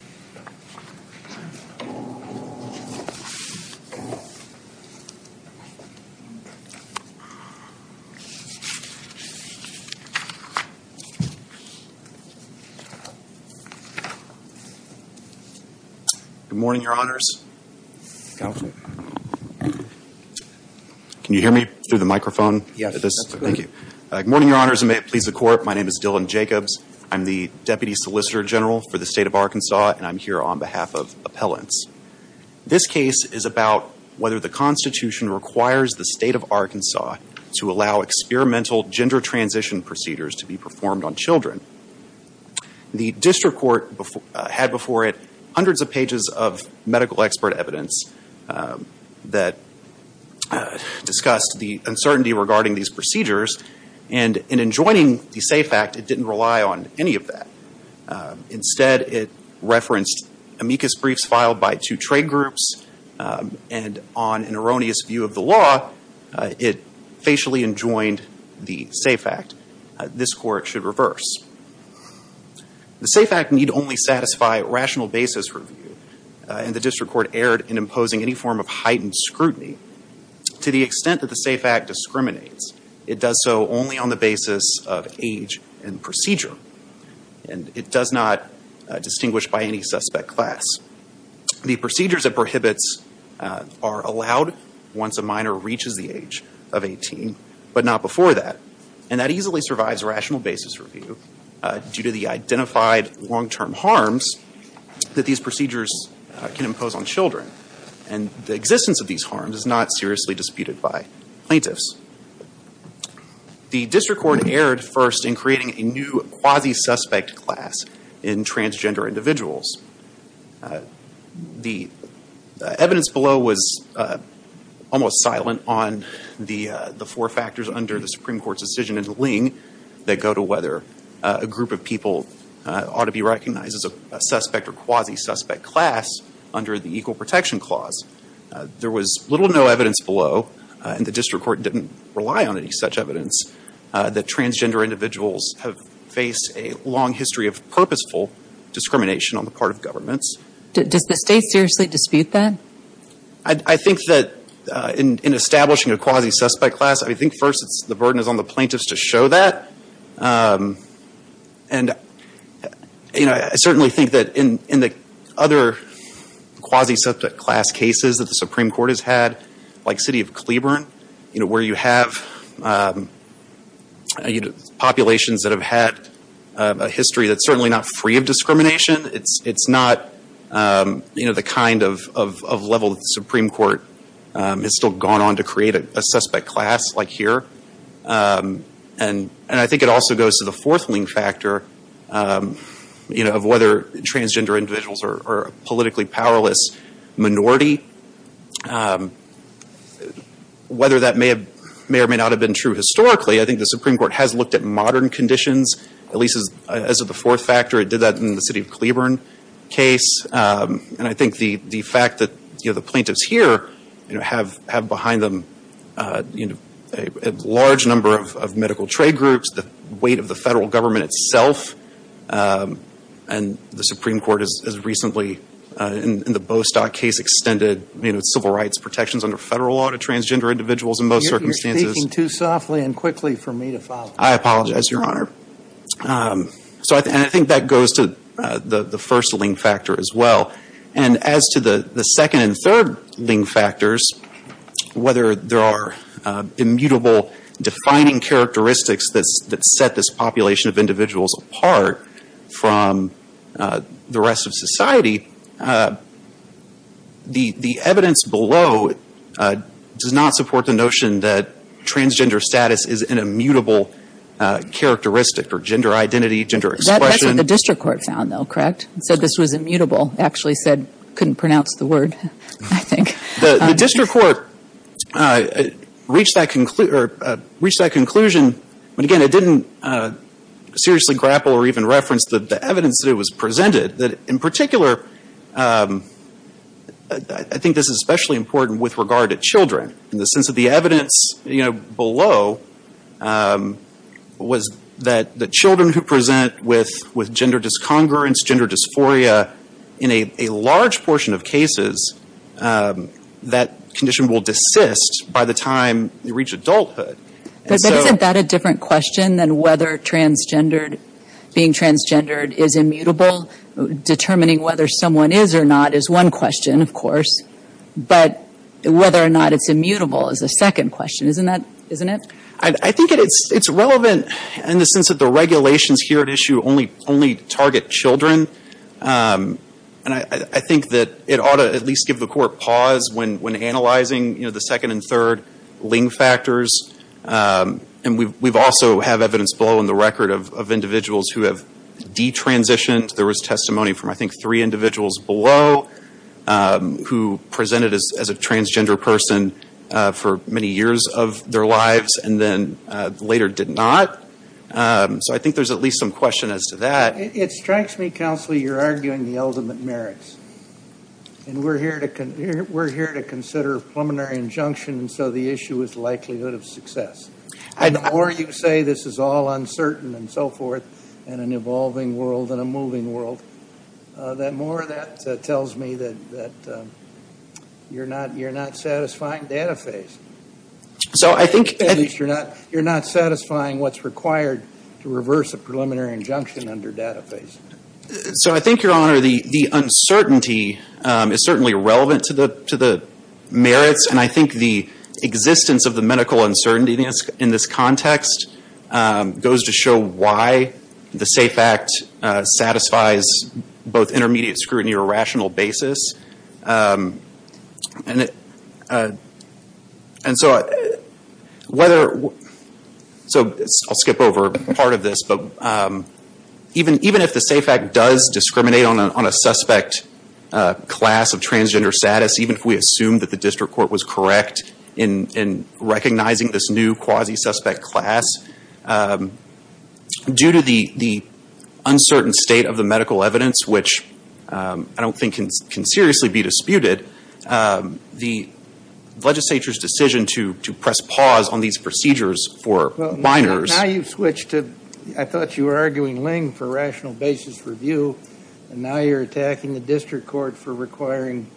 Good morning, your honors. Can you hear me through the microphone? Yes. Thank you. Good morning, your honors, and may it please the court. My name is Dylan Jacobs. I'm the deputy solicitor general for the state of Arkansas, and I'm here on behalf of appellants. This case is about whether the Constitution requires the state of Arkansas to allow experimental gender transition procedures to be performed on children. The district court had before it hundreds of pages of medical expert evidence that discussed the uncertainty regarding these procedures, and in enjoining the SAFE Act, it didn't rely on any of that. Instead, it referenced amicus briefs filed by two trade groups, and on an erroneous view of the law, it facially enjoined the SAFE Act. This court should reverse. The SAFE Act need only satisfy rational basis review, and the district court erred in imposing any form of heightened scrutiny. To the extent that the SAFE Act discriminates, it does so only on the basis of age and procedure, and it does not distinguish by any suspect class. The procedures it prohibits are allowed once a minor reaches the age of 18, but not before that, and that easily survives rational basis review due to the identified long-term harms that these procedures can impose on children, and the existence of these harms is not seriously disputed by plaintiffs. The district court erred first in creating a new quasi-suspect class in transgender individuals. The evidence below was almost silent on the four factors under the Supreme Court's decision in Ling that go to whether a group of people ought to be recognized as a suspect or quasi-suspect class under the Equal Protection Clause. There was little to no evidence below, and the district court didn't rely on any such evidence, that transgender individuals have faced a long history of purposeful discrimination on the part of governments. Does the state seriously dispute that? I think that in establishing a quasi-suspect class, I think first it's the burden is on the plaintiffs to show that, and you know, I certainly think that in the other quasi-suspect class cases that the like City of Cleburne, you know, where you have populations that have had a history that's certainly not free of discrimination, it's not, you know, the kind of level that the Supreme Court has still gone on to create a suspect class like here, and I think it also goes to the fourth Ling factor, you know, of whether transgender individuals are politically powerless minority. Whether that may have, may or may not have been true historically, I think the Supreme Court has looked at modern conditions, at least as of the fourth factor. It did that in the City of Cleburne case, and I think the fact that, you know, the plaintiffs here, you know, have behind them, you know, a large number of medical trade groups, the weight of the federal government itself, and the Supreme Court has recently, in the Bostock case, extended, you know, civil rights protections under federal law to transgender individuals in both circumstances. You're speaking too softly and quickly for me to follow. I apologize, Your Honor. So I think that goes to the first Ling factor as well, and as to the the second and third Ling factors, whether there are immutable defining characteristics that set this population of individuals apart from the rest of society, the evidence below does not support the notion that transgender status is an immutable characteristic or gender identity, gender expression. That's what the district court found, though, correct? So this was immutable, actually said, couldn't pronounce the word, I think. The district court reached that conclusion, but again, it didn't seriously grapple or even reference the evidence that it was presented, that in particular, I think this is especially important with regard to children, in the sense of the evidence, you know, below was that the children who present with gender discongruence, gender dysphoria, in a large portion of cases, that condition will desist by the time they grow up. Isn't that a different question than whether transgendered, being transgendered, is immutable? Determining whether someone is or not is one question, of course, but whether or not it's immutable is the second question, isn't that, isn't it? I think it's relevant in the sense that the regulations here at issue only target children, and I think that it ought to at least give the court pause when analyzing, you know, the second and we've also have evidence below in the record of individuals who have detransitioned. There was testimony from, I think, three individuals below, who presented as a transgender person for many years of their lives, and then later did not. So I think there's at least some question as to that. It strikes me, counsel, you're arguing the ultimate merits, and we're here to answer that. The more you say this is all uncertain and so forth, in an evolving world, in a moving world, the more that tells me that you're not satisfying data phase. So I think at least you're not satisfying what's required to reverse a preliminary injunction under data phase. So I think, Your Honor, the uncertainty is certainly relevant to the merits, and I context goes to show why the SAFE Act satisfies both intermediate scrutiny or rational basis. And so I'll skip over part of this, but even if the SAFE Act does discriminate on a suspect class of transgender status, even if we assume that the district court was correct in recognizing this new quasi-suspect class, due to the uncertain state of the medical evidence, which I don't think can seriously be disputed, the legislature's decision to press pause on these procedures for minors. Now you've switched to, I thought you were arguing Ling for rational basis review, and now you're attacking the district court for requiring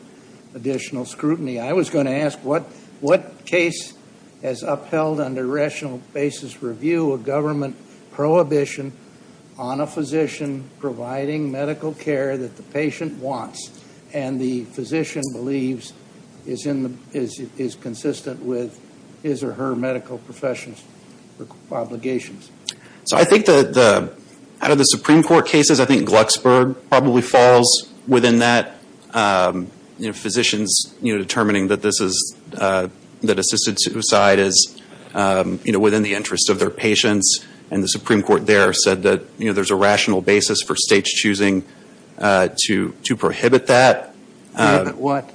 additional scrutiny. I was going to ask what case has upheld under rational basis review a government prohibition on a physician providing medical care that the patient wants, and the physician believes is consistent with his or her medical profession's obligations? So I think that out of the Supreme Court cases, I think Glucksburg probably been that. Physicians determining that assisted suicide is within the interest of their patients, and the Supreme Court there said that there's a rational basis for states choosing to prohibit that. To prohibit what?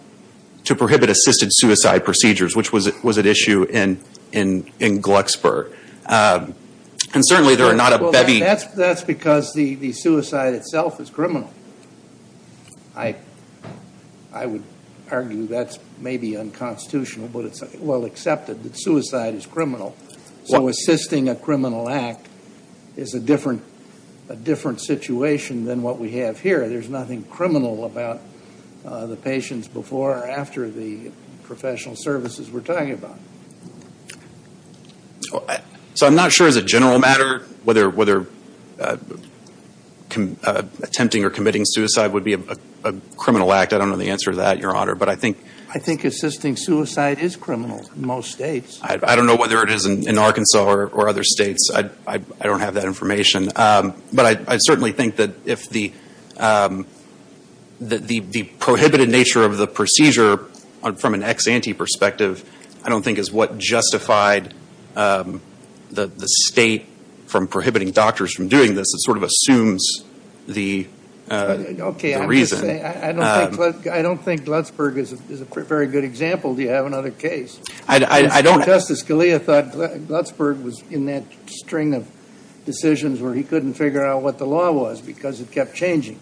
To prohibit assisted suicide procedures, which was at issue in Glucksburg. And certainly there are not bevy... That's because the suicide itself is criminal. I would argue that's maybe unconstitutional, but it's well accepted that suicide is criminal. So assisting a criminal act is a different situation than what we have here. There's nothing criminal about the patients before or after the professional services we're talking about. So I'm not sure as a general matter whether attempting or committing suicide would be a criminal act. I don't know the answer to that, Your Honor, but I think... I think assisting suicide is criminal in most states. I don't know whether it is in Arkansas or other states. I don't have that information, but I certainly think that if the prohibited nature of the procedure from an ex-ante perspective, I don't think Glucksburg is a very good example. Do you have another case? I don't... Justice Scalia thought Glucksburg was in that string of decisions where he couldn't figure out what the law was because it kept changing.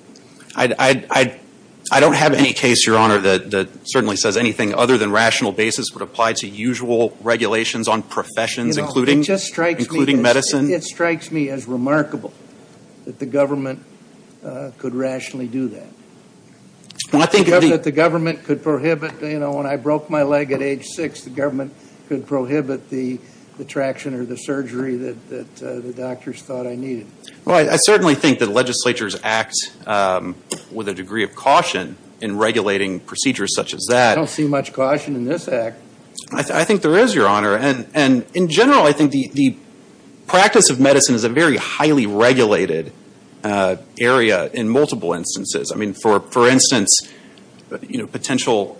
I don't have any case, Your Honor, that certainly says anything other than rational basis would apply to usual regulations on professions, including... It just strikes me as remarkable that the government could rationally do that. I think that the government could prohibit, you know, when I broke my leg at age six, the government could prohibit the traction or the surgery that the doctors thought I needed. Well, I certainly think that legislatures act with a degree of caution in regulating procedures such as that. I don't see much caution in this Your Honor, and in general, I think the practice of medicine is a very highly regulated area in multiple instances. I mean, for instance, you know, potential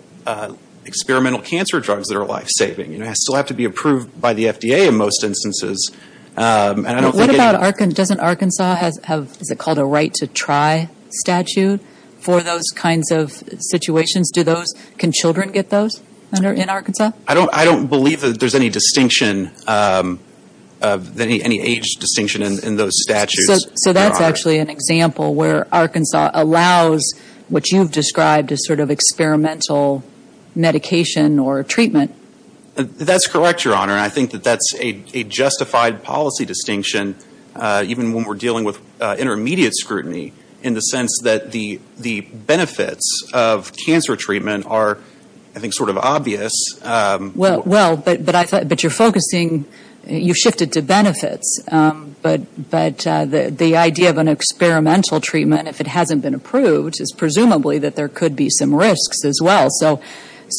experimental cancer drugs that are life-saving, you know, still have to be approved by the FDA in most instances, and I don't think... What about, doesn't Arkansas have, is it called a right-to-try statute for those kinds of situations? Do those, can children get those in Arkansas? I don't believe that there's any distinction, any age distinction in those statutes. So that's actually an example where Arkansas allows what you've described as sort of experimental medication or treatment. That's correct, Your Honor, and I think that that's a justified policy distinction, even when we're dealing with intermediate scrutiny, in the sense that the benefits of cancer treatment are, I thought, but you're focusing, you shifted to benefits, but the idea of an experimental treatment, if it hasn't been approved, is presumably that there could be some risks as well.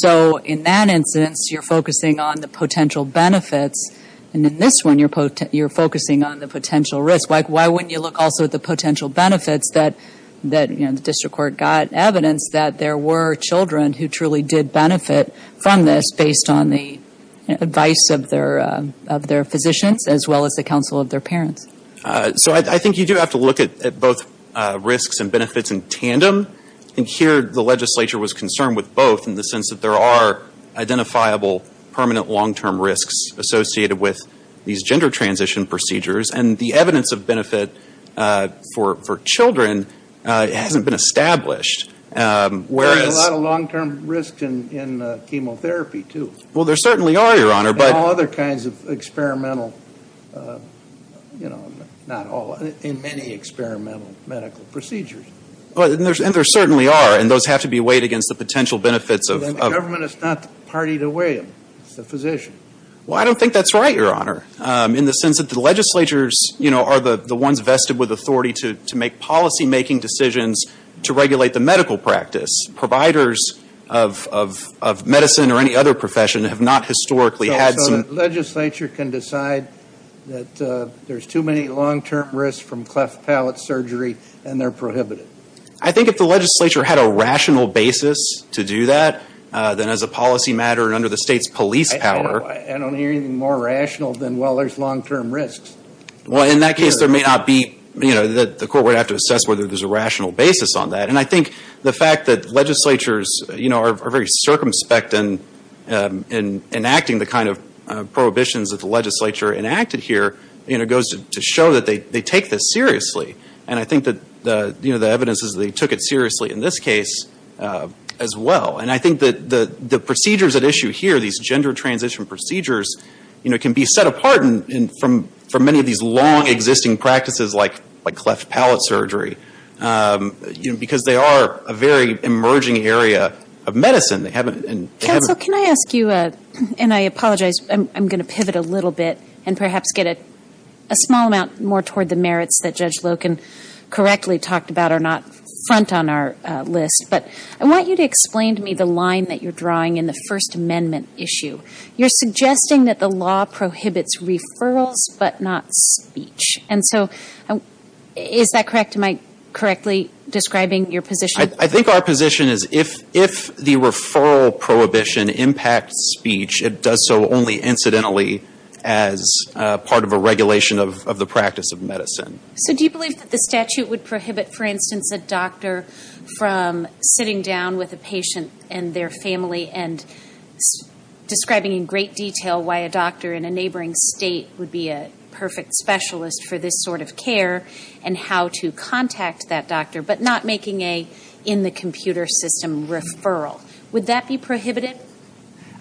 So in that instance, you're focusing on the potential benefits, and in this one, you're focusing on the potential risk. Why wouldn't you look also at the potential benefits that, you know, the district court got evidence that there were children who truly did benefit from this, based on the advice of their physicians, as well as the counsel of their parents? So I think you do have to look at both risks and benefits in tandem, and here the legislature was concerned with both, in the sense that there are identifiable permanent long-term risks associated with these gender transition procedures, and the evidence of benefit for children hasn't been established, whereas... There's a lot of long-term risks in chemotherapy, too. Well, there certainly are, Your Honor, but... And all other kinds of experimental, you know, not all, in many experimental medical procedures. Well, and there certainly are, and those have to be weighed against the potential benefits of... The government is not partied away, it's the physician. Well, I don't think that's right, Your Honor, in the sense that the legislatures, you know, are the ones vested with authority to make policy-making decisions to regulate the medical practice. Providers of medicine or any other profession have not historically had some... So the legislature can decide that there's too many long-term risks from cleft palate surgery, and they're prohibited? I think if the legislature had a rational basis to do that, then as a policy matter and under the state's police power... I don't hear anything more rational than, well, there's long-term risks. Well, in that case, there may not be, you know, that the assess whether there's a rational basis on that. And I think the fact that legislatures, you know, are very circumspect in enacting the kind of prohibitions that the legislature enacted here, you know, goes to show that they take this seriously. And I think that, you know, the evidence is they took it seriously in this case as well. And I think that the procedures at issue here, these gender transition procedures, you know, can be set apart from many of those long existing practices like cleft palate surgery, you know, because they are a very emerging area of medicine. They haven't... Counsel, can I ask you, and I apologize, I'm gonna pivot a little bit and perhaps get a small amount more toward the merits that Judge Loken correctly talked about are not front on our list, but I want you to explain to me the line that you're drawing in the First Amendment issue. You're suggesting that the law prohibits referrals but not speech. And so, is that correct? Am I correctly describing your position? I think our position is if the referral prohibition impacts speech, it does so only incidentally as part of a regulation of the practice of medicine. So do you believe that the statute would prohibit, for instance, a doctor from sitting down with a patient and their family and describing in great detail why a doctor in a neighboring state would be a perfect specialist for this sort of care and how to contact that doctor, but not making a in-the-computer-system referral? Would that be prohibited?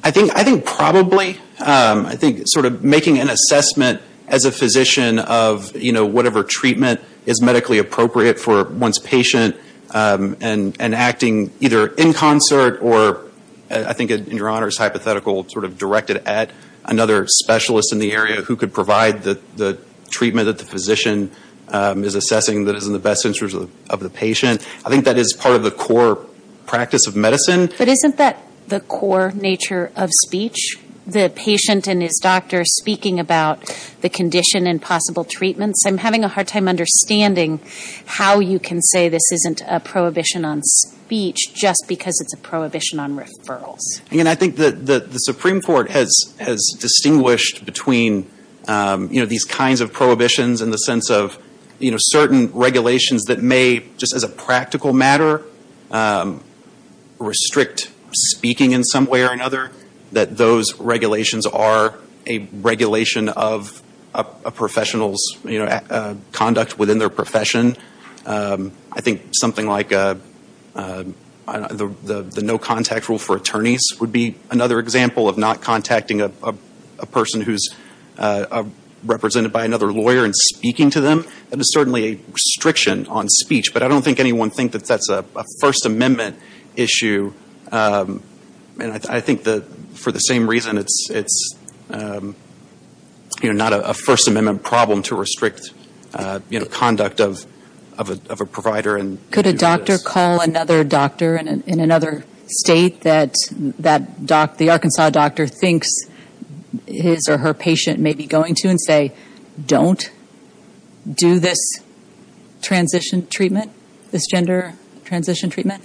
I think probably. I think sort of making an assessment as a physician of, you know, whatever treatment is medically appropriate for one's patient and acting either in concert or, I think in Your Honor's hypothetical, sort of directed at another specialist in the area who could provide the treatment that the physician is assessing that is in the best interest of the patient. I think that is part of the core practice of medicine. But isn't that the core nature of speech? The patient and his doctor speaking about the condition and possible treatments? I'm having a hard time understanding how you can say this isn't a prohibition on speech just because it's a prohibition on referrals. I mean, I think that the Supreme Court has distinguished between, you know, these kinds of prohibitions in the sense of, you know, certain regulations that may, just as a practical matter, restrict speaking in some way or another, that those regulations are a regulation of a professional's, you know, conduct within their profession. I think something like the no-contact rule for attorneys would be another example of not contacting a person who's represented by another lawyer and speaking to them. That is certainly a restriction on speech. But I don't think anyone would think that that's a First Amendment issue. And I think that, for the same reason, it's, you know, not a First Amendment problem to restrict, you know, conduct of a provider. Could a doctor call another doctor in another state that the Arkansas doctor thinks his or her patient may be going to and say, don't do this transition treatment, this gender transition treatment?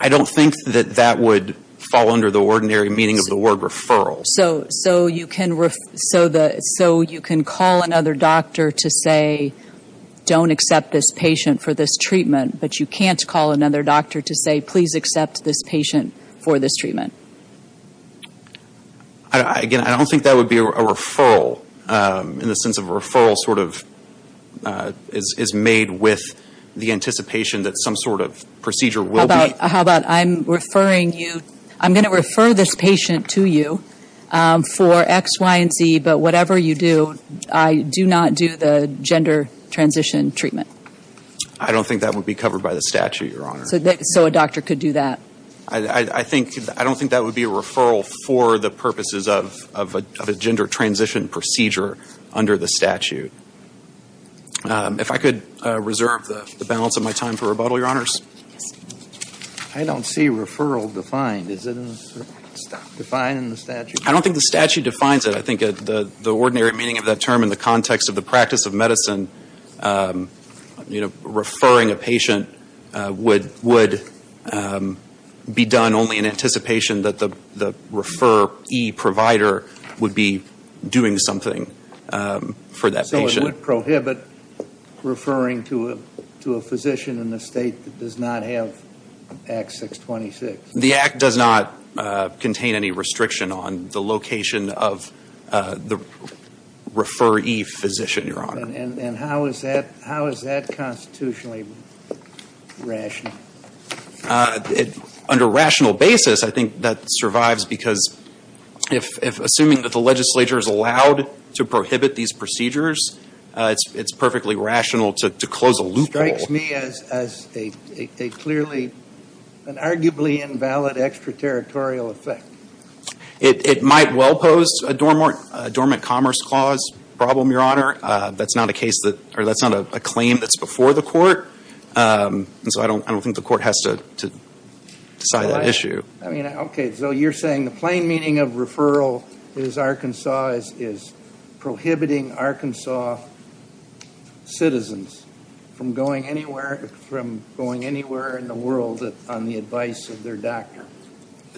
I don't think that that would fall under the ordinary meaning of the word referral. So you can call another doctor to say, don't accept this patient for this treatment, but you can't call another doctor to say, please accept this patient for this treatment. Again, I don't think that would be covered by the statute, Your Honor. So a doctor could do that? I don't think that would be a referral for the purposes of a gender transition procedure under the statute. If I could reserve the balance of my time for rebuttal, Your Honors. I don't see referral defined. Is it defined in the statute? I don't think the statute defines it. I think the ordinary meaning of that term in the context of the practice of medicine, you know, referring a patient would be done only in anticipation that the referee provider would be doing something for that patient. So it would prohibit referring to a physician in the state that does not have Act 626? The Act does not contain any restriction on the location of the referee physician, Your Honor. And how is that constitutionally rational? Under rational basis, I think that survives because if, assuming that the legislature is allowed to prohibit these procedures, it's perfectly rational to close a loophole. Strikes me as a clearly, an arguably invalid extraterritorial effect. It might well pose a dormant commerce clause problem, Your Honor. That's not a case that, or that's not a claim that's before the court. And so I don't think the court has to decide that issue. I mean, okay, so you're saying the plain meaning of referral is Arkansas is prohibiting Arkansas citizens from going anywhere in the world on the advice of their doctor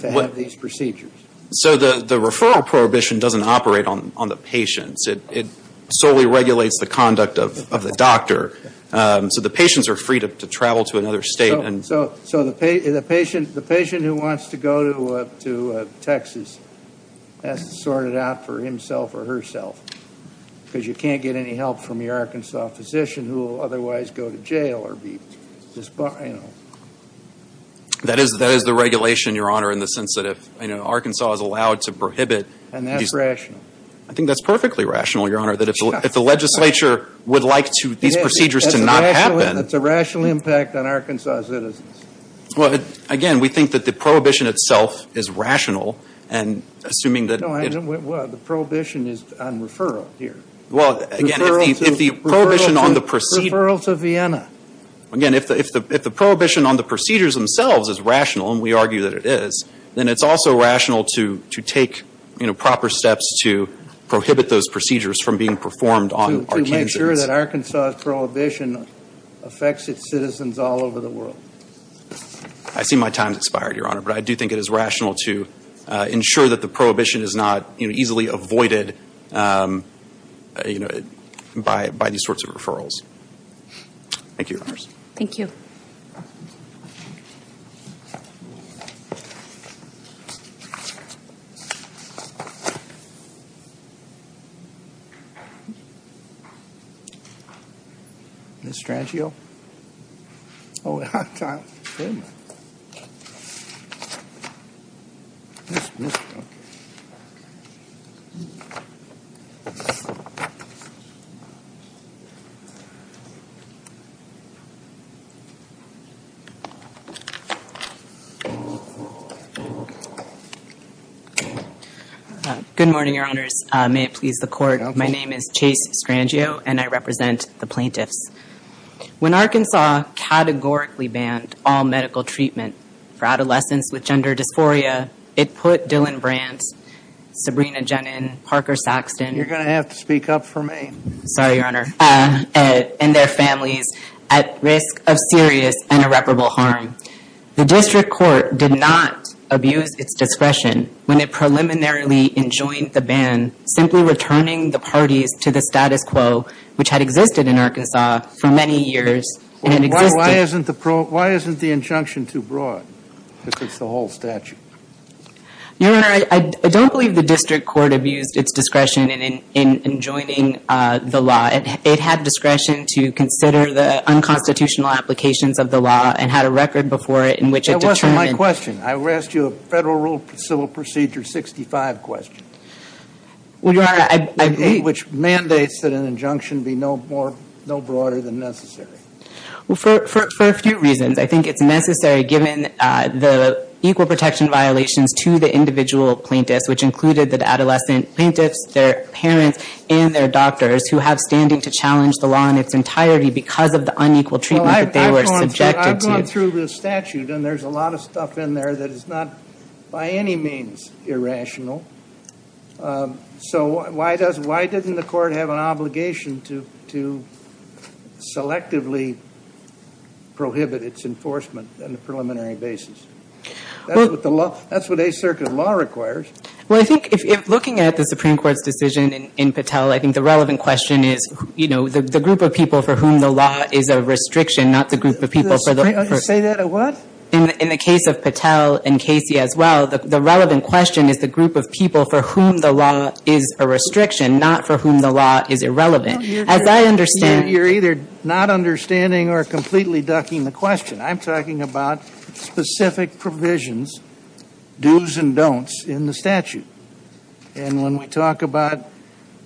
to have these procedures? So the referral prohibition doesn't operate on the patients. It solely regulates the conduct of the doctor. So the patients are free to travel to another state and... So the patient who wants to go to Texas has to sort it out for himself or herself. Because you can't get any help from your Arkansas physician who will otherwise go to jail or be disbarred. That is the regulation, Your Honor, in the sense that if Arkansas is allowed to prohibit... And that's rational. I think that's perfectly rational, Your Honor, that if the legislature would like these procedures to not happen... That's a rational impact on Arkansas citizens. Well, again, we think that the prohibition itself is rational and assuming that... No, the prohibition is on referral here. Well, again, if the prohibition on the procedure... Referral to Vienna. Again, if the prohibition on the procedures themselves is rational, and we argue that it is, then it's also rational to take proper steps to prohibit those procedures from being performed on Arkansas citizens. To make sure that Arkansas's prohibition affects its citizens all over the world. I see my time's expired, Your Honor, but I do think it is rational to ensure that the prohibition is not easily avoided by these sorts of referrals. Thank you, Your Honors. Thank you. Ms. Strangio? Oh, we have time. Good morning, Your Honors. May it please the Court. My name is Chase Strangio, and I represent the plaintiffs. When Arkansas categorically banned all medical treatment for adolescents with gender dysphoria, it put Dylan Brandt, Sabrina Jenin, Parker Saxton... You're going to have to speak up for me. Sorry, Your Honor. ...and their families at risk of serious and irreparable harm. The district court did not abuse its discretion when it preliminarily enjoined the ban, simply returning the parties to the status quo which had existed in Arkansas for many years. Why isn't the injunction too broad? Because it's the whole statute. Your Honor, I don't believe the district court abused its discretion in enjoining the law. It had discretion to consider the unconstitutional applications of the law and had a record before it in which it determined... That wasn't my question. I asked you a Federal Rule of Civil Procedure 65 question... Well, Your Honor, I believe... ...which mandates that an injunction be no broader than necessary. Well, for a few reasons. I think it's necessary given the equal protection violations to the individual plaintiffs, which included the adolescent plaintiffs, their parents, and their doctors who have standing to challenge the law in its entirety because of the unequal treatment that they were subjected to. I'm going through the statute, and there's a lot of stuff in there that is not by any means irrational. So why doesn't the court have an obligation to selectively prohibit its enforcement on a preliminary basis? That's what a circuit law requires. Well, I think looking at the Supreme Court's decision in Patel, I think the relevant question is, you know, the group of people for whom the law is a restriction, not the group of people for the... Say that at what? In the case of Patel and Casey as well, the relevant question is the group of people for whom the law is a restriction, not for whom the law is irrelevant. As I understand... You're either not understanding or completely ducking the question. I'm talking about specific provisions, do's and don'ts, in the statute. And when we talk about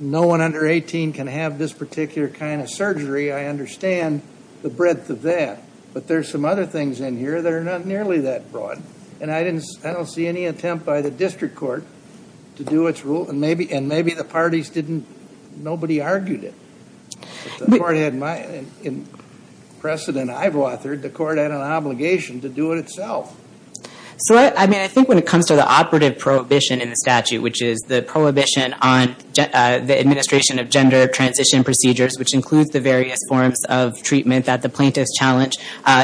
no one under 18 can have this particular kind of surgery, I understand the breadth of that. But there's some other things in here that are not nearly that broad, and I don't see any attempt by the district court to do its rule, and maybe the parties didn't... Nobody argued it. The court had my... In precedent I've authored, the court had an obligation to do it itself. So, I mean, I think when it comes to the operative prohibition in the statute, which is the prohibition on the administration of gender transition procedures, which includes the various forms of treatment that the plaintiffs challenge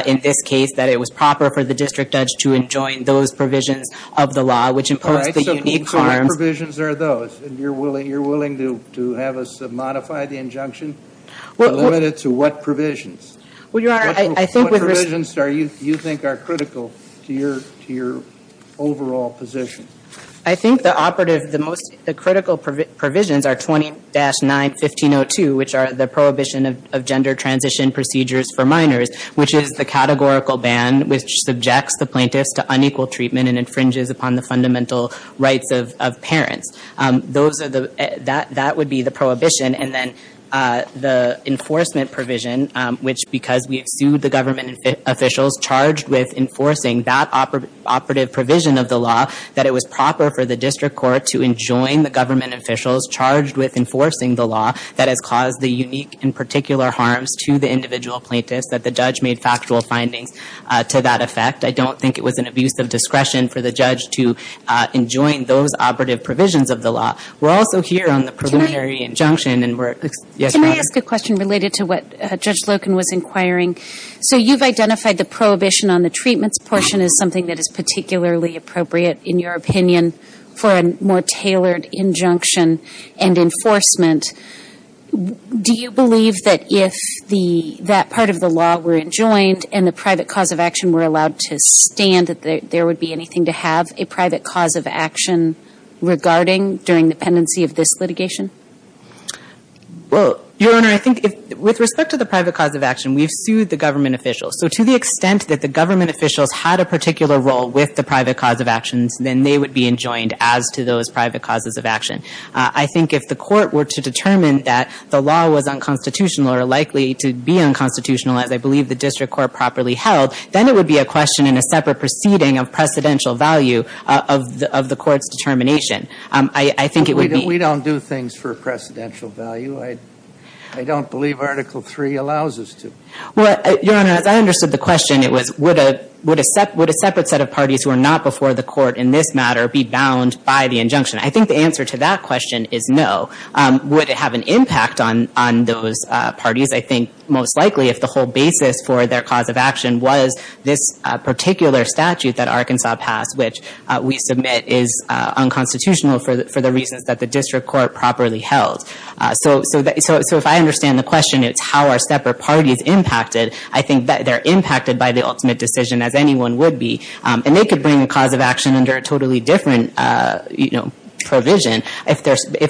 in this case, that it was proper for the district judge to enjoin those provisions of the law, which impose the unique harms... All right, so what provisions are those? And you're willing to have us modify the injunction? Limited to what provisions? Well, Your Honor, I think... What provisions do you think are critical to your overall position? I think the operative, the most critical provisions are 20-9-1502, which are the prohibition of gender transition procedures for minors, which is the categorical ban which subjects the plaintiffs to unequal treatment and infringes upon the fundamental rights of parents. Those are the... That would be the prohibition. And then the enforcement provision, which because we have sued the government officials charged with enforcing that operative provision of the law, that it was proper for the district court to enjoin the government officials charged with enforcing the law that has caused the unique and particular harms to the individual plaintiffs, that the judge made factual findings to that effect. I don't think it was an abuse of discretion for the judge to enjoin those operative provisions of the law. We're also here on the preliminary injunction and we're... Can I ask a question related to what Judge Loken was inquiring? So you've identified the prohibition on the treatments portion as something that is particularly appropriate, in your opinion, for a more tailored injunction and enforcement. Do you believe that if that part of the law were enjoined and the private cause of action were allowed to stand, that there would be anything to have a private cause of action regarding during the pendency of this litigation? Well, Your Honor, I think with respect to the private cause of action, we've sued the government officials. So to the extent that the government officials had a particular role with the private cause of actions, then they would be enjoined as to those private causes of action. I think if the court were to determine that the law was unconstitutional or likely to be unconstitutional, as I believe the district court properly held, then it would be a question in a separate proceeding of precedential value of the court's determination. I think it would be... We don't do things for a precedential value. I don't believe Article III allows us to. Well, Your Honor, as I understood the question, it was, would a separate set of parties who are not before the court in this matter be bound by the injunction? I think the answer to that question is no. Would it have an impact on those parties? I think most likely if the whole basis for their cause of action was this particular statute that Arkansas passed, which we submit is unconstitutional for the reasons that the district court properly held. So if I understand the question, it's how are separate parties impacted. I think they're impacted by the ultimate decision as anyone would be, and they could bring a cause of action under a totally different provision. If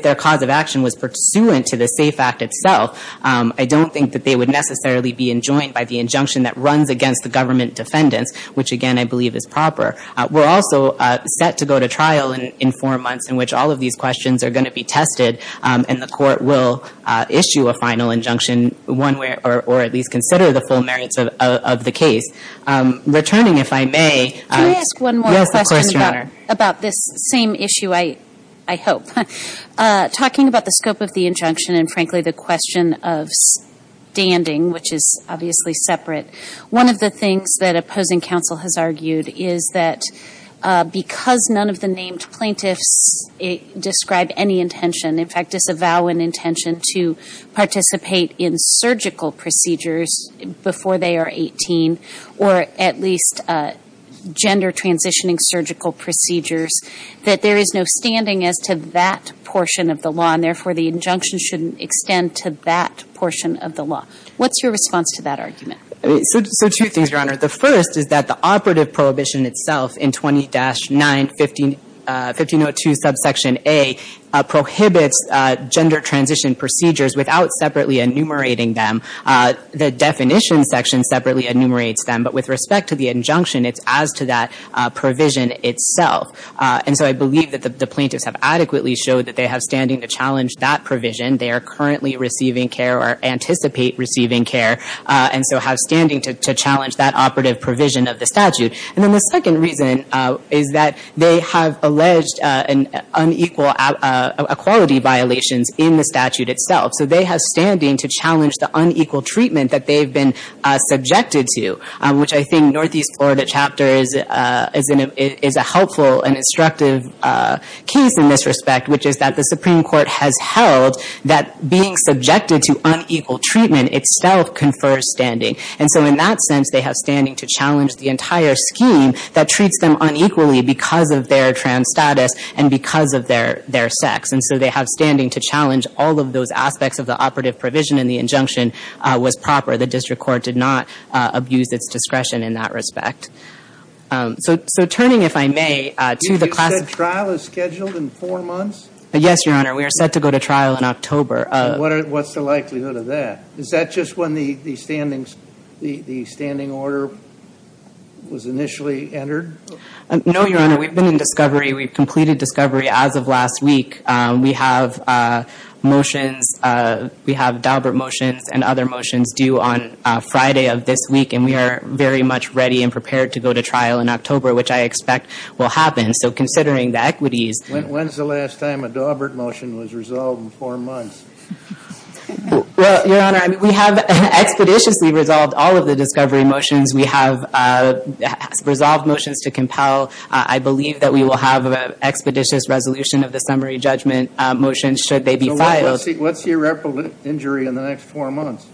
their cause of action was pursuant to the SAFE Act itself, I don't think that they would necessarily be enjoined by the injunction that runs against the government defendants, which, again, I believe is proper. We're also set to go to trial in four months in which all of these questions are going to be tested, and the court will issue a final injunction one way or at least consider the full merits of the case. Returning, if I may, yes, of course, Your Honor. Can I ask one more question about this same issue, I hope? Talking about the scope of the injunction and, frankly, the question of standing, which is obviously separate, one of the things that opposing counsel has argued is that because none of the named plaintiffs describe any intention, in fact, disavow an intention to participate in surgical procedures before they are 18 or at least gender transitioning surgical procedures, that there is no standing as to that portion of the law and, therefore, the injunction shouldn't extend to that portion of the law. What's your response to that argument? So two things, Your Honor. The first is that the operative prohibition itself in 20-9, 1502 subsection A, prohibits gender transition procedures without separately enumerating them. The definition section separately enumerates them, but with respect to the injunction, it's as to that provision itself. And so I believe that the plaintiffs have adequately showed that they have standing to challenge that provision. They are currently receiving care or anticipate receiving care and so have standing to challenge that operative provision of the statute. And then the second reason is that they have alleged unequal equality violations in the statute itself. So they have standing to challenge the unequal treatment that they've been subjected to, which I think Northeast Florida Chapter is a helpful and instructive case in this respect, which is that the Supreme Court has held that being subjected to unequal treatment itself confers standing. And so in that sense, they have standing to challenge the entire scheme that treats them unequally because of their trans status and because of their sex. And so they have standing to challenge all of those aspects of the operative provision and the injunction was proper. The district court did not abuse its discretion in that respect. So turning, if I may, to the class of- You said trial is scheduled in four months? Yes, Your Honor. We are set to go to trial in October. What's the likelihood of that? Is that just when the standing order was initially entered? No, Your Honor. We've been in discovery. We've completed discovery as of last week. We have motions. We have Daubert motions and other motions due on Friday of this week, and we are very much ready and prepared to go to trial in October, which I expect will happen. So considering the equities- When's the last time a Daubert motion was resolved in four months? Well, Your Honor, we have expeditiously resolved all of the discovery motions. We have resolved motions to compel. I believe that we will have an expeditious resolution of the summary judgment motions should they be filed. What's the irreparable injury in the next four months?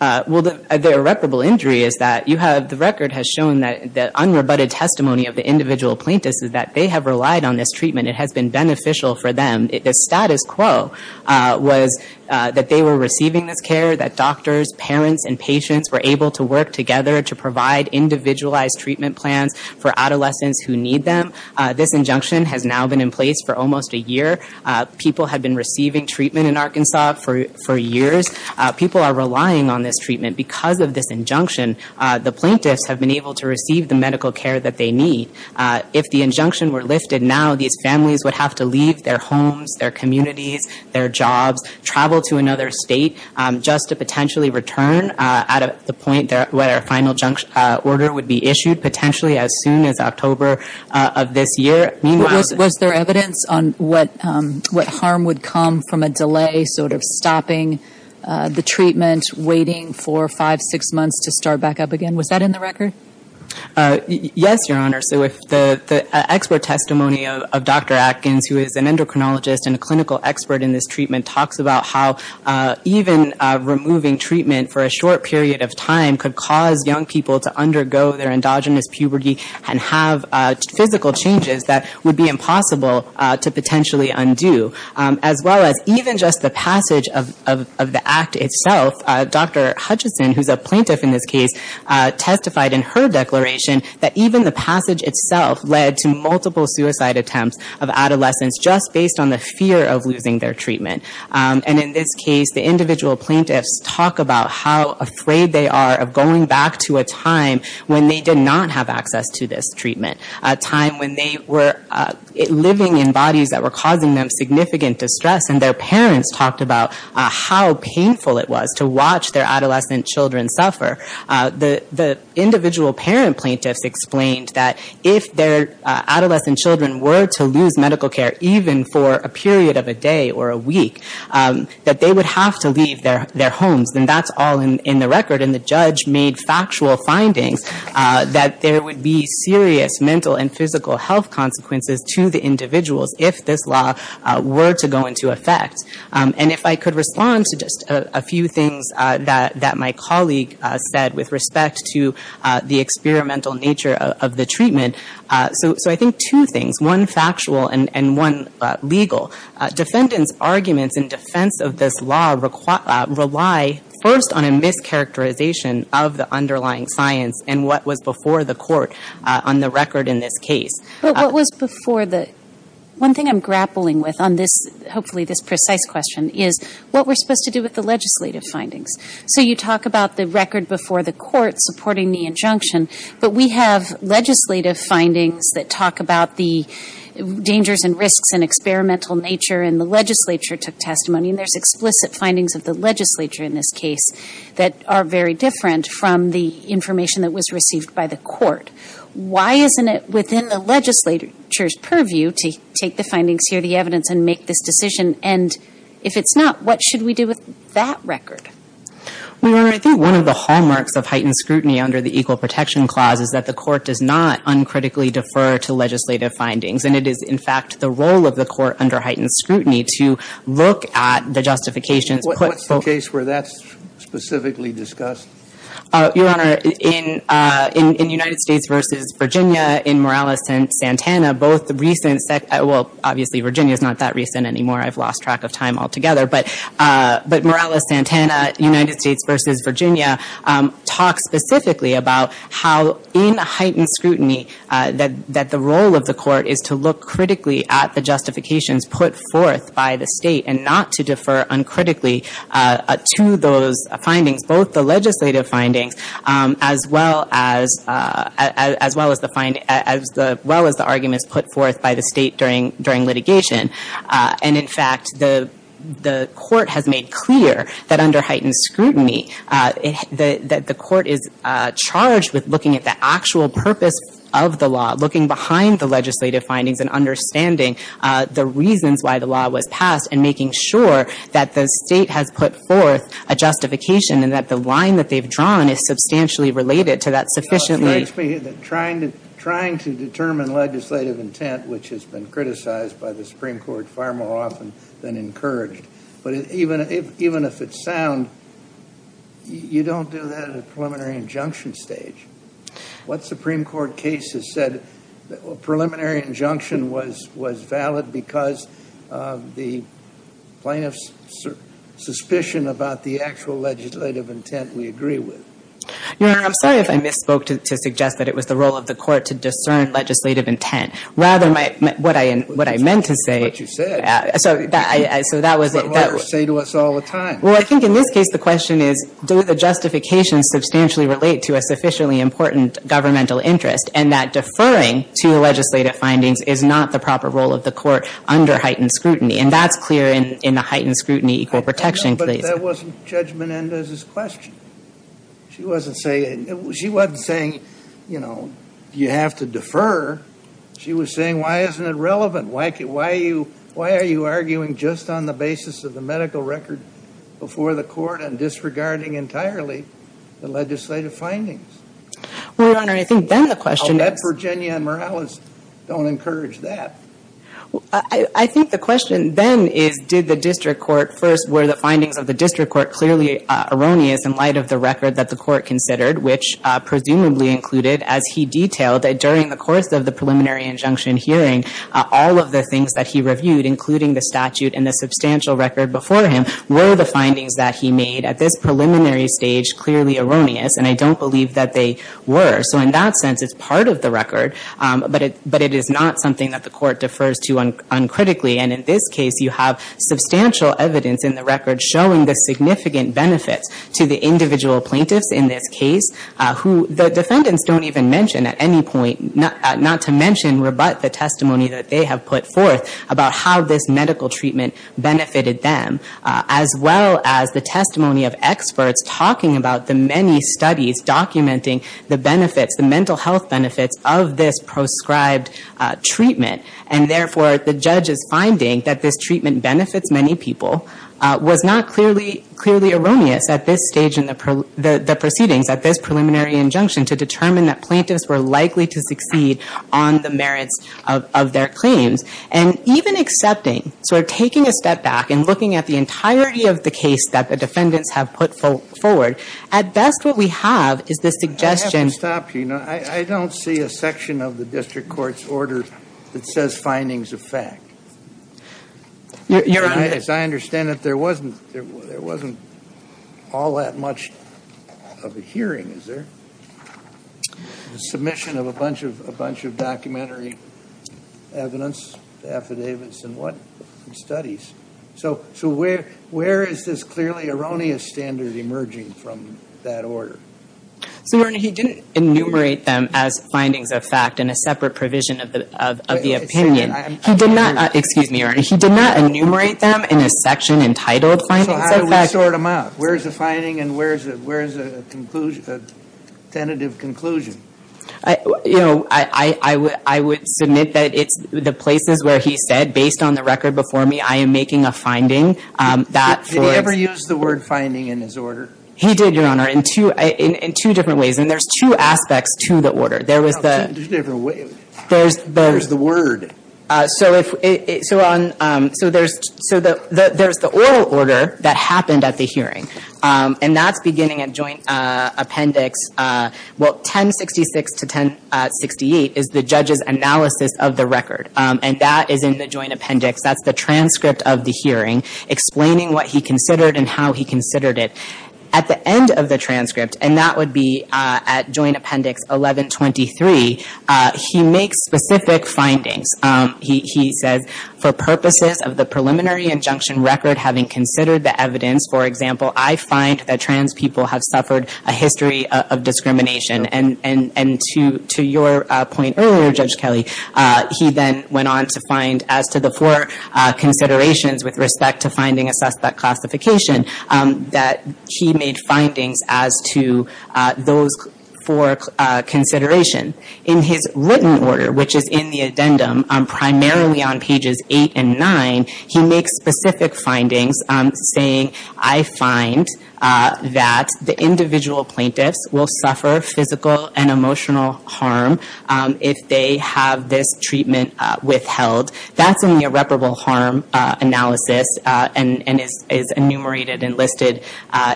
Well, the irreparable injury is that you have- The record has shown that the unrebutted testimony of the individual plaintiffs is that they have relied on this treatment. It has been beneficial for them. The status quo was that they were receiving this care, that doctors, parents, and patients were able to work together to provide individualized treatment plans for adolescents who need them. This injunction has now been in place for almost a year. People have been receiving treatment in Arkansas for years. People are relying on this treatment because of this injunction. The plaintiffs have been able to receive the medical care that they need. If the injunction were lifted now, these families would have to leave their homes, their communities, their jobs, travel to another state just to potentially return at the point where a final order would be issued, potentially as soon as October of this year. Was there evidence on what harm would come from a delay, sort of stopping the treatment, waiting four, five, six months to start back up again? Was that in the record? Yes, Your Honor. So the expert testimony of Dr. Atkins, who is an endocrinologist and a clinical expert in this treatment, talks about how even removing treatment for a short period of time could cause young people to undergo their endogenous puberty and have physical changes that would be impossible to potentially undo. As well as even just the passage of the act itself, Dr. Hutchison, who is a plaintiff in this case, testified in her declaration that even the passage itself led to multiple suicide attempts of adolescents just based on the fear of losing their treatment. And in this case, the individual plaintiffs talk about how afraid they are of going back to a time when they did not have access to this treatment, a time when they were living in bodies that were causing them significant distress. And their parents talked about how painful it was to watch their adolescent children suffer. The individual parent plaintiffs explained that if their adolescent children were to lose medical care, even for a period of a day or a week, that they would have to leave their homes. And that's all in the record. And the judge made factual findings that there would be serious mental and physical health consequences to the individuals if this law were to go into effect. And if I could respond to just a few things that my colleague said with respect to the experimental nature of the treatment. So I think two things, one factual and one legal. Defendants' arguments in defense of this law rely first on a mischaracterization of the underlying science and what was before the court on the record in this case. But what was before the, one thing I'm grappling with on this, hopefully this precise question, is what we're supposed to do with the legislative findings. So you talk about the record before the court supporting the injunction, but we have legislative findings that talk about the dangers and risks and experimental nature, and the legislature took testimony, and there's explicit findings of the legislature in this case that are very different from the information that was received by the court. Why isn't it within the legislature's purview to take the findings here, the evidence, and make this decision? And if it's not, what should we do with that record? Well, Your Honor, I think one of the hallmarks of heightened scrutiny under the Equal Protection Clause is that the court does not uncritically defer to legislative findings, and it is, in fact, the role of the court under heightened scrutiny to look at the justifications. What's the case where that's specifically discussed? Your Honor, in United States v. Virginia, in Morales-Santana, both the recent, well, obviously Virginia's not that recent anymore, I've lost track of time altogether, but Morales-Santana, United States v. Virginia, talks specifically about how in heightened scrutiny that the role of the court is to look critically at the justifications put forth by the state and not to defer uncritically to those findings, both the legislative findings, as well as the arguments put forth by the state during litigation. And, in fact, the court has made clear that under heightened scrutiny, that the court is charged with looking at the actual purpose of the law, looking behind the legislative findings and understanding the reasons why the law was passed and making sure that the state has put forth a justification and that the line that they've drawn is substantially related to that sufficiently. It strikes me that trying to determine legislative intent, which has been criticized by the Supreme Court far more often than encouraged, but even if it's sound, you don't do that at a preliminary injunction stage. What Supreme Court cases said, a preliminary injunction was valid because of the plaintiff's suspicion about the actual legislative intent we agree with. Your Honor, I'm sorry if I misspoke to suggest that it was the role of the court to discern legislative intent. Rather, what I meant to say so that was it. That's what lawyers say to us all the time. Well, I think in this case the question is, do the justifications substantially relate to a sufficiently important governmental interest and that deferring to the legislative findings is not the proper role of the court under heightened scrutiny? And that's clear in the heightened scrutiny equal protection case. But that wasn't Judge Menendez's question. She wasn't saying, you know, you have to defer. She was saying, why isn't it relevant? Why are you arguing just on the basis of the medical record before the court and disregarding entirely the legislative findings? Well, Your Honor, I think then the question is. I'll bet Virginia and Morales don't encourage that. I think the question then is, did the district court first, were the findings of the district court clearly erroneous in light of the record that the court considered, which presumably included, as he detailed, during the course of the preliminary injunction hearing, all of the things that he reviewed, including the statute and the substantial record before him, were the findings that he made at this preliminary stage clearly erroneous. And I don't believe that they were. So in that sense, it's part of the record. But it is not something that the court defers to uncritically. And in this case, you have substantial evidence in the record showing the significant benefits to the individual plaintiffs in this case, who the defendants don't even mention at any point, not to mention rebut the testimony that they have put forth about how this medical treatment benefited them, as well as the testimony of experts talking about the many studies documenting the benefits, the mental health benefits, of this prescribed treatment. And therefore, the judge's finding that this treatment benefits many people was not clearly erroneous at this stage in the proceedings, at this preliminary injunction, to determine that plaintiffs were likely to succeed on the merits of their claims. And even accepting, sort of taking a step back and looking at the entirety of the case that the defendants have put forward, at best what we have is the suggestion- I have to stop you. I don't see a section of the district court's order that says findings of fact. Your Honor- As I understand it, there wasn't all that much of a hearing, is there? The submission of a bunch of documentary evidence, affidavits, and studies. So where is this clearly erroneous standard emerging from that order? Your Honor, he didn't enumerate them as findings of fact in a separate provision of the opinion. He did not- Excuse me, Your Honor. He did not enumerate them in a section entitled findings of fact. So how do we sort them out? Where is the finding and where is the tentative conclusion? I would submit that it's the places where he said, based on the record before me, I am making a finding that- Did he ever use the word finding in his order? He did, Your Honor, in two different ways. And there's two aspects to the order. There was the- There's a different way. There's the- There's the word. So there's the oral order that happened at the hearing, and that's beginning at joint appendix 1066 to 1068 is the judge's analysis of the record. And that is in the joint appendix. That's the transcript of the hearing explaining what he considered and how he considered it. At the end of the transcript, and that would be at joint appendix 1123, he makes specific findings. He says, for purposes of the preliminary injunction record, having considered the evidence, for example, I find that trans people have suffered a history of discrimination. And to your point earlier, Judge Kelly, he then went on to find as to the four considerations with respect to finding a suspect classification that he made findings as to those four considerations. In his written order, which is in the addendum, primarily on pages 8 and 9, he makes specific findings saying, I find that the individual plaintiffs will suffer physical and emotional harm if they have this treatment withheld. That's in the irreparable harm analysis and is enumerated and listed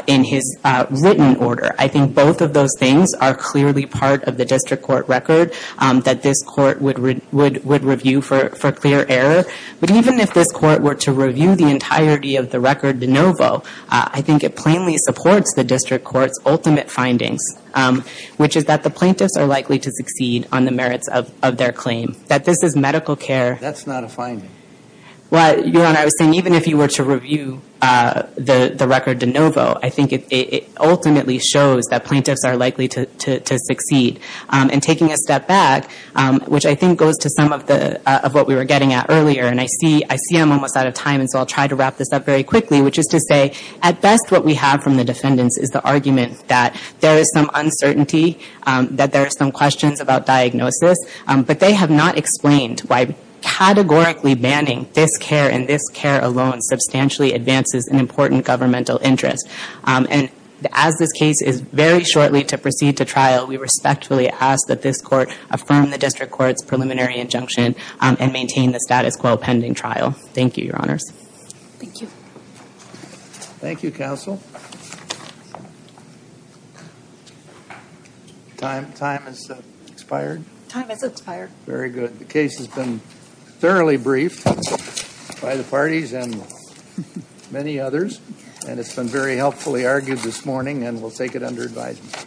in his written order. I think both of those things are clearly part of the district court record that this court would review for clear error. But even if this court were to review the entirety of the record de novo, I think it plainly supports the district court's ultimate findings, which is that the plaintiffs are likely to succeed on the merits of their claim, that this is medical care. That's not a finding. Well, Your Honor, I was saying even if you were to review the record de novo, I think it ultimately shows that plaintiffs are likely to succeed. And taking a step back, which I think goes to some of what we were getting at earlier, and I see I'm almost out of time, and so I'll try to wrap this up very quickly, which is to say at best what we have from the defendants is the argument that there is some uncertainty, that there are some questions about diagnosis, but they have not explained why categorically banning this care and this care alone substantially advances an important governmental interest. And as this case is very shortly to proceed to trial, we respectfully ask that this court affirm the district court's preliminary injunction and maintain the status quo pending trial. Thank you, Your Honors. Thank you. Thank you, counsel. Time has expired? Time has expired. Very good. The case has been thoroughly briefed by the parties and many others, and it's been very helpfully argued this morning, and we'll take it under advisement.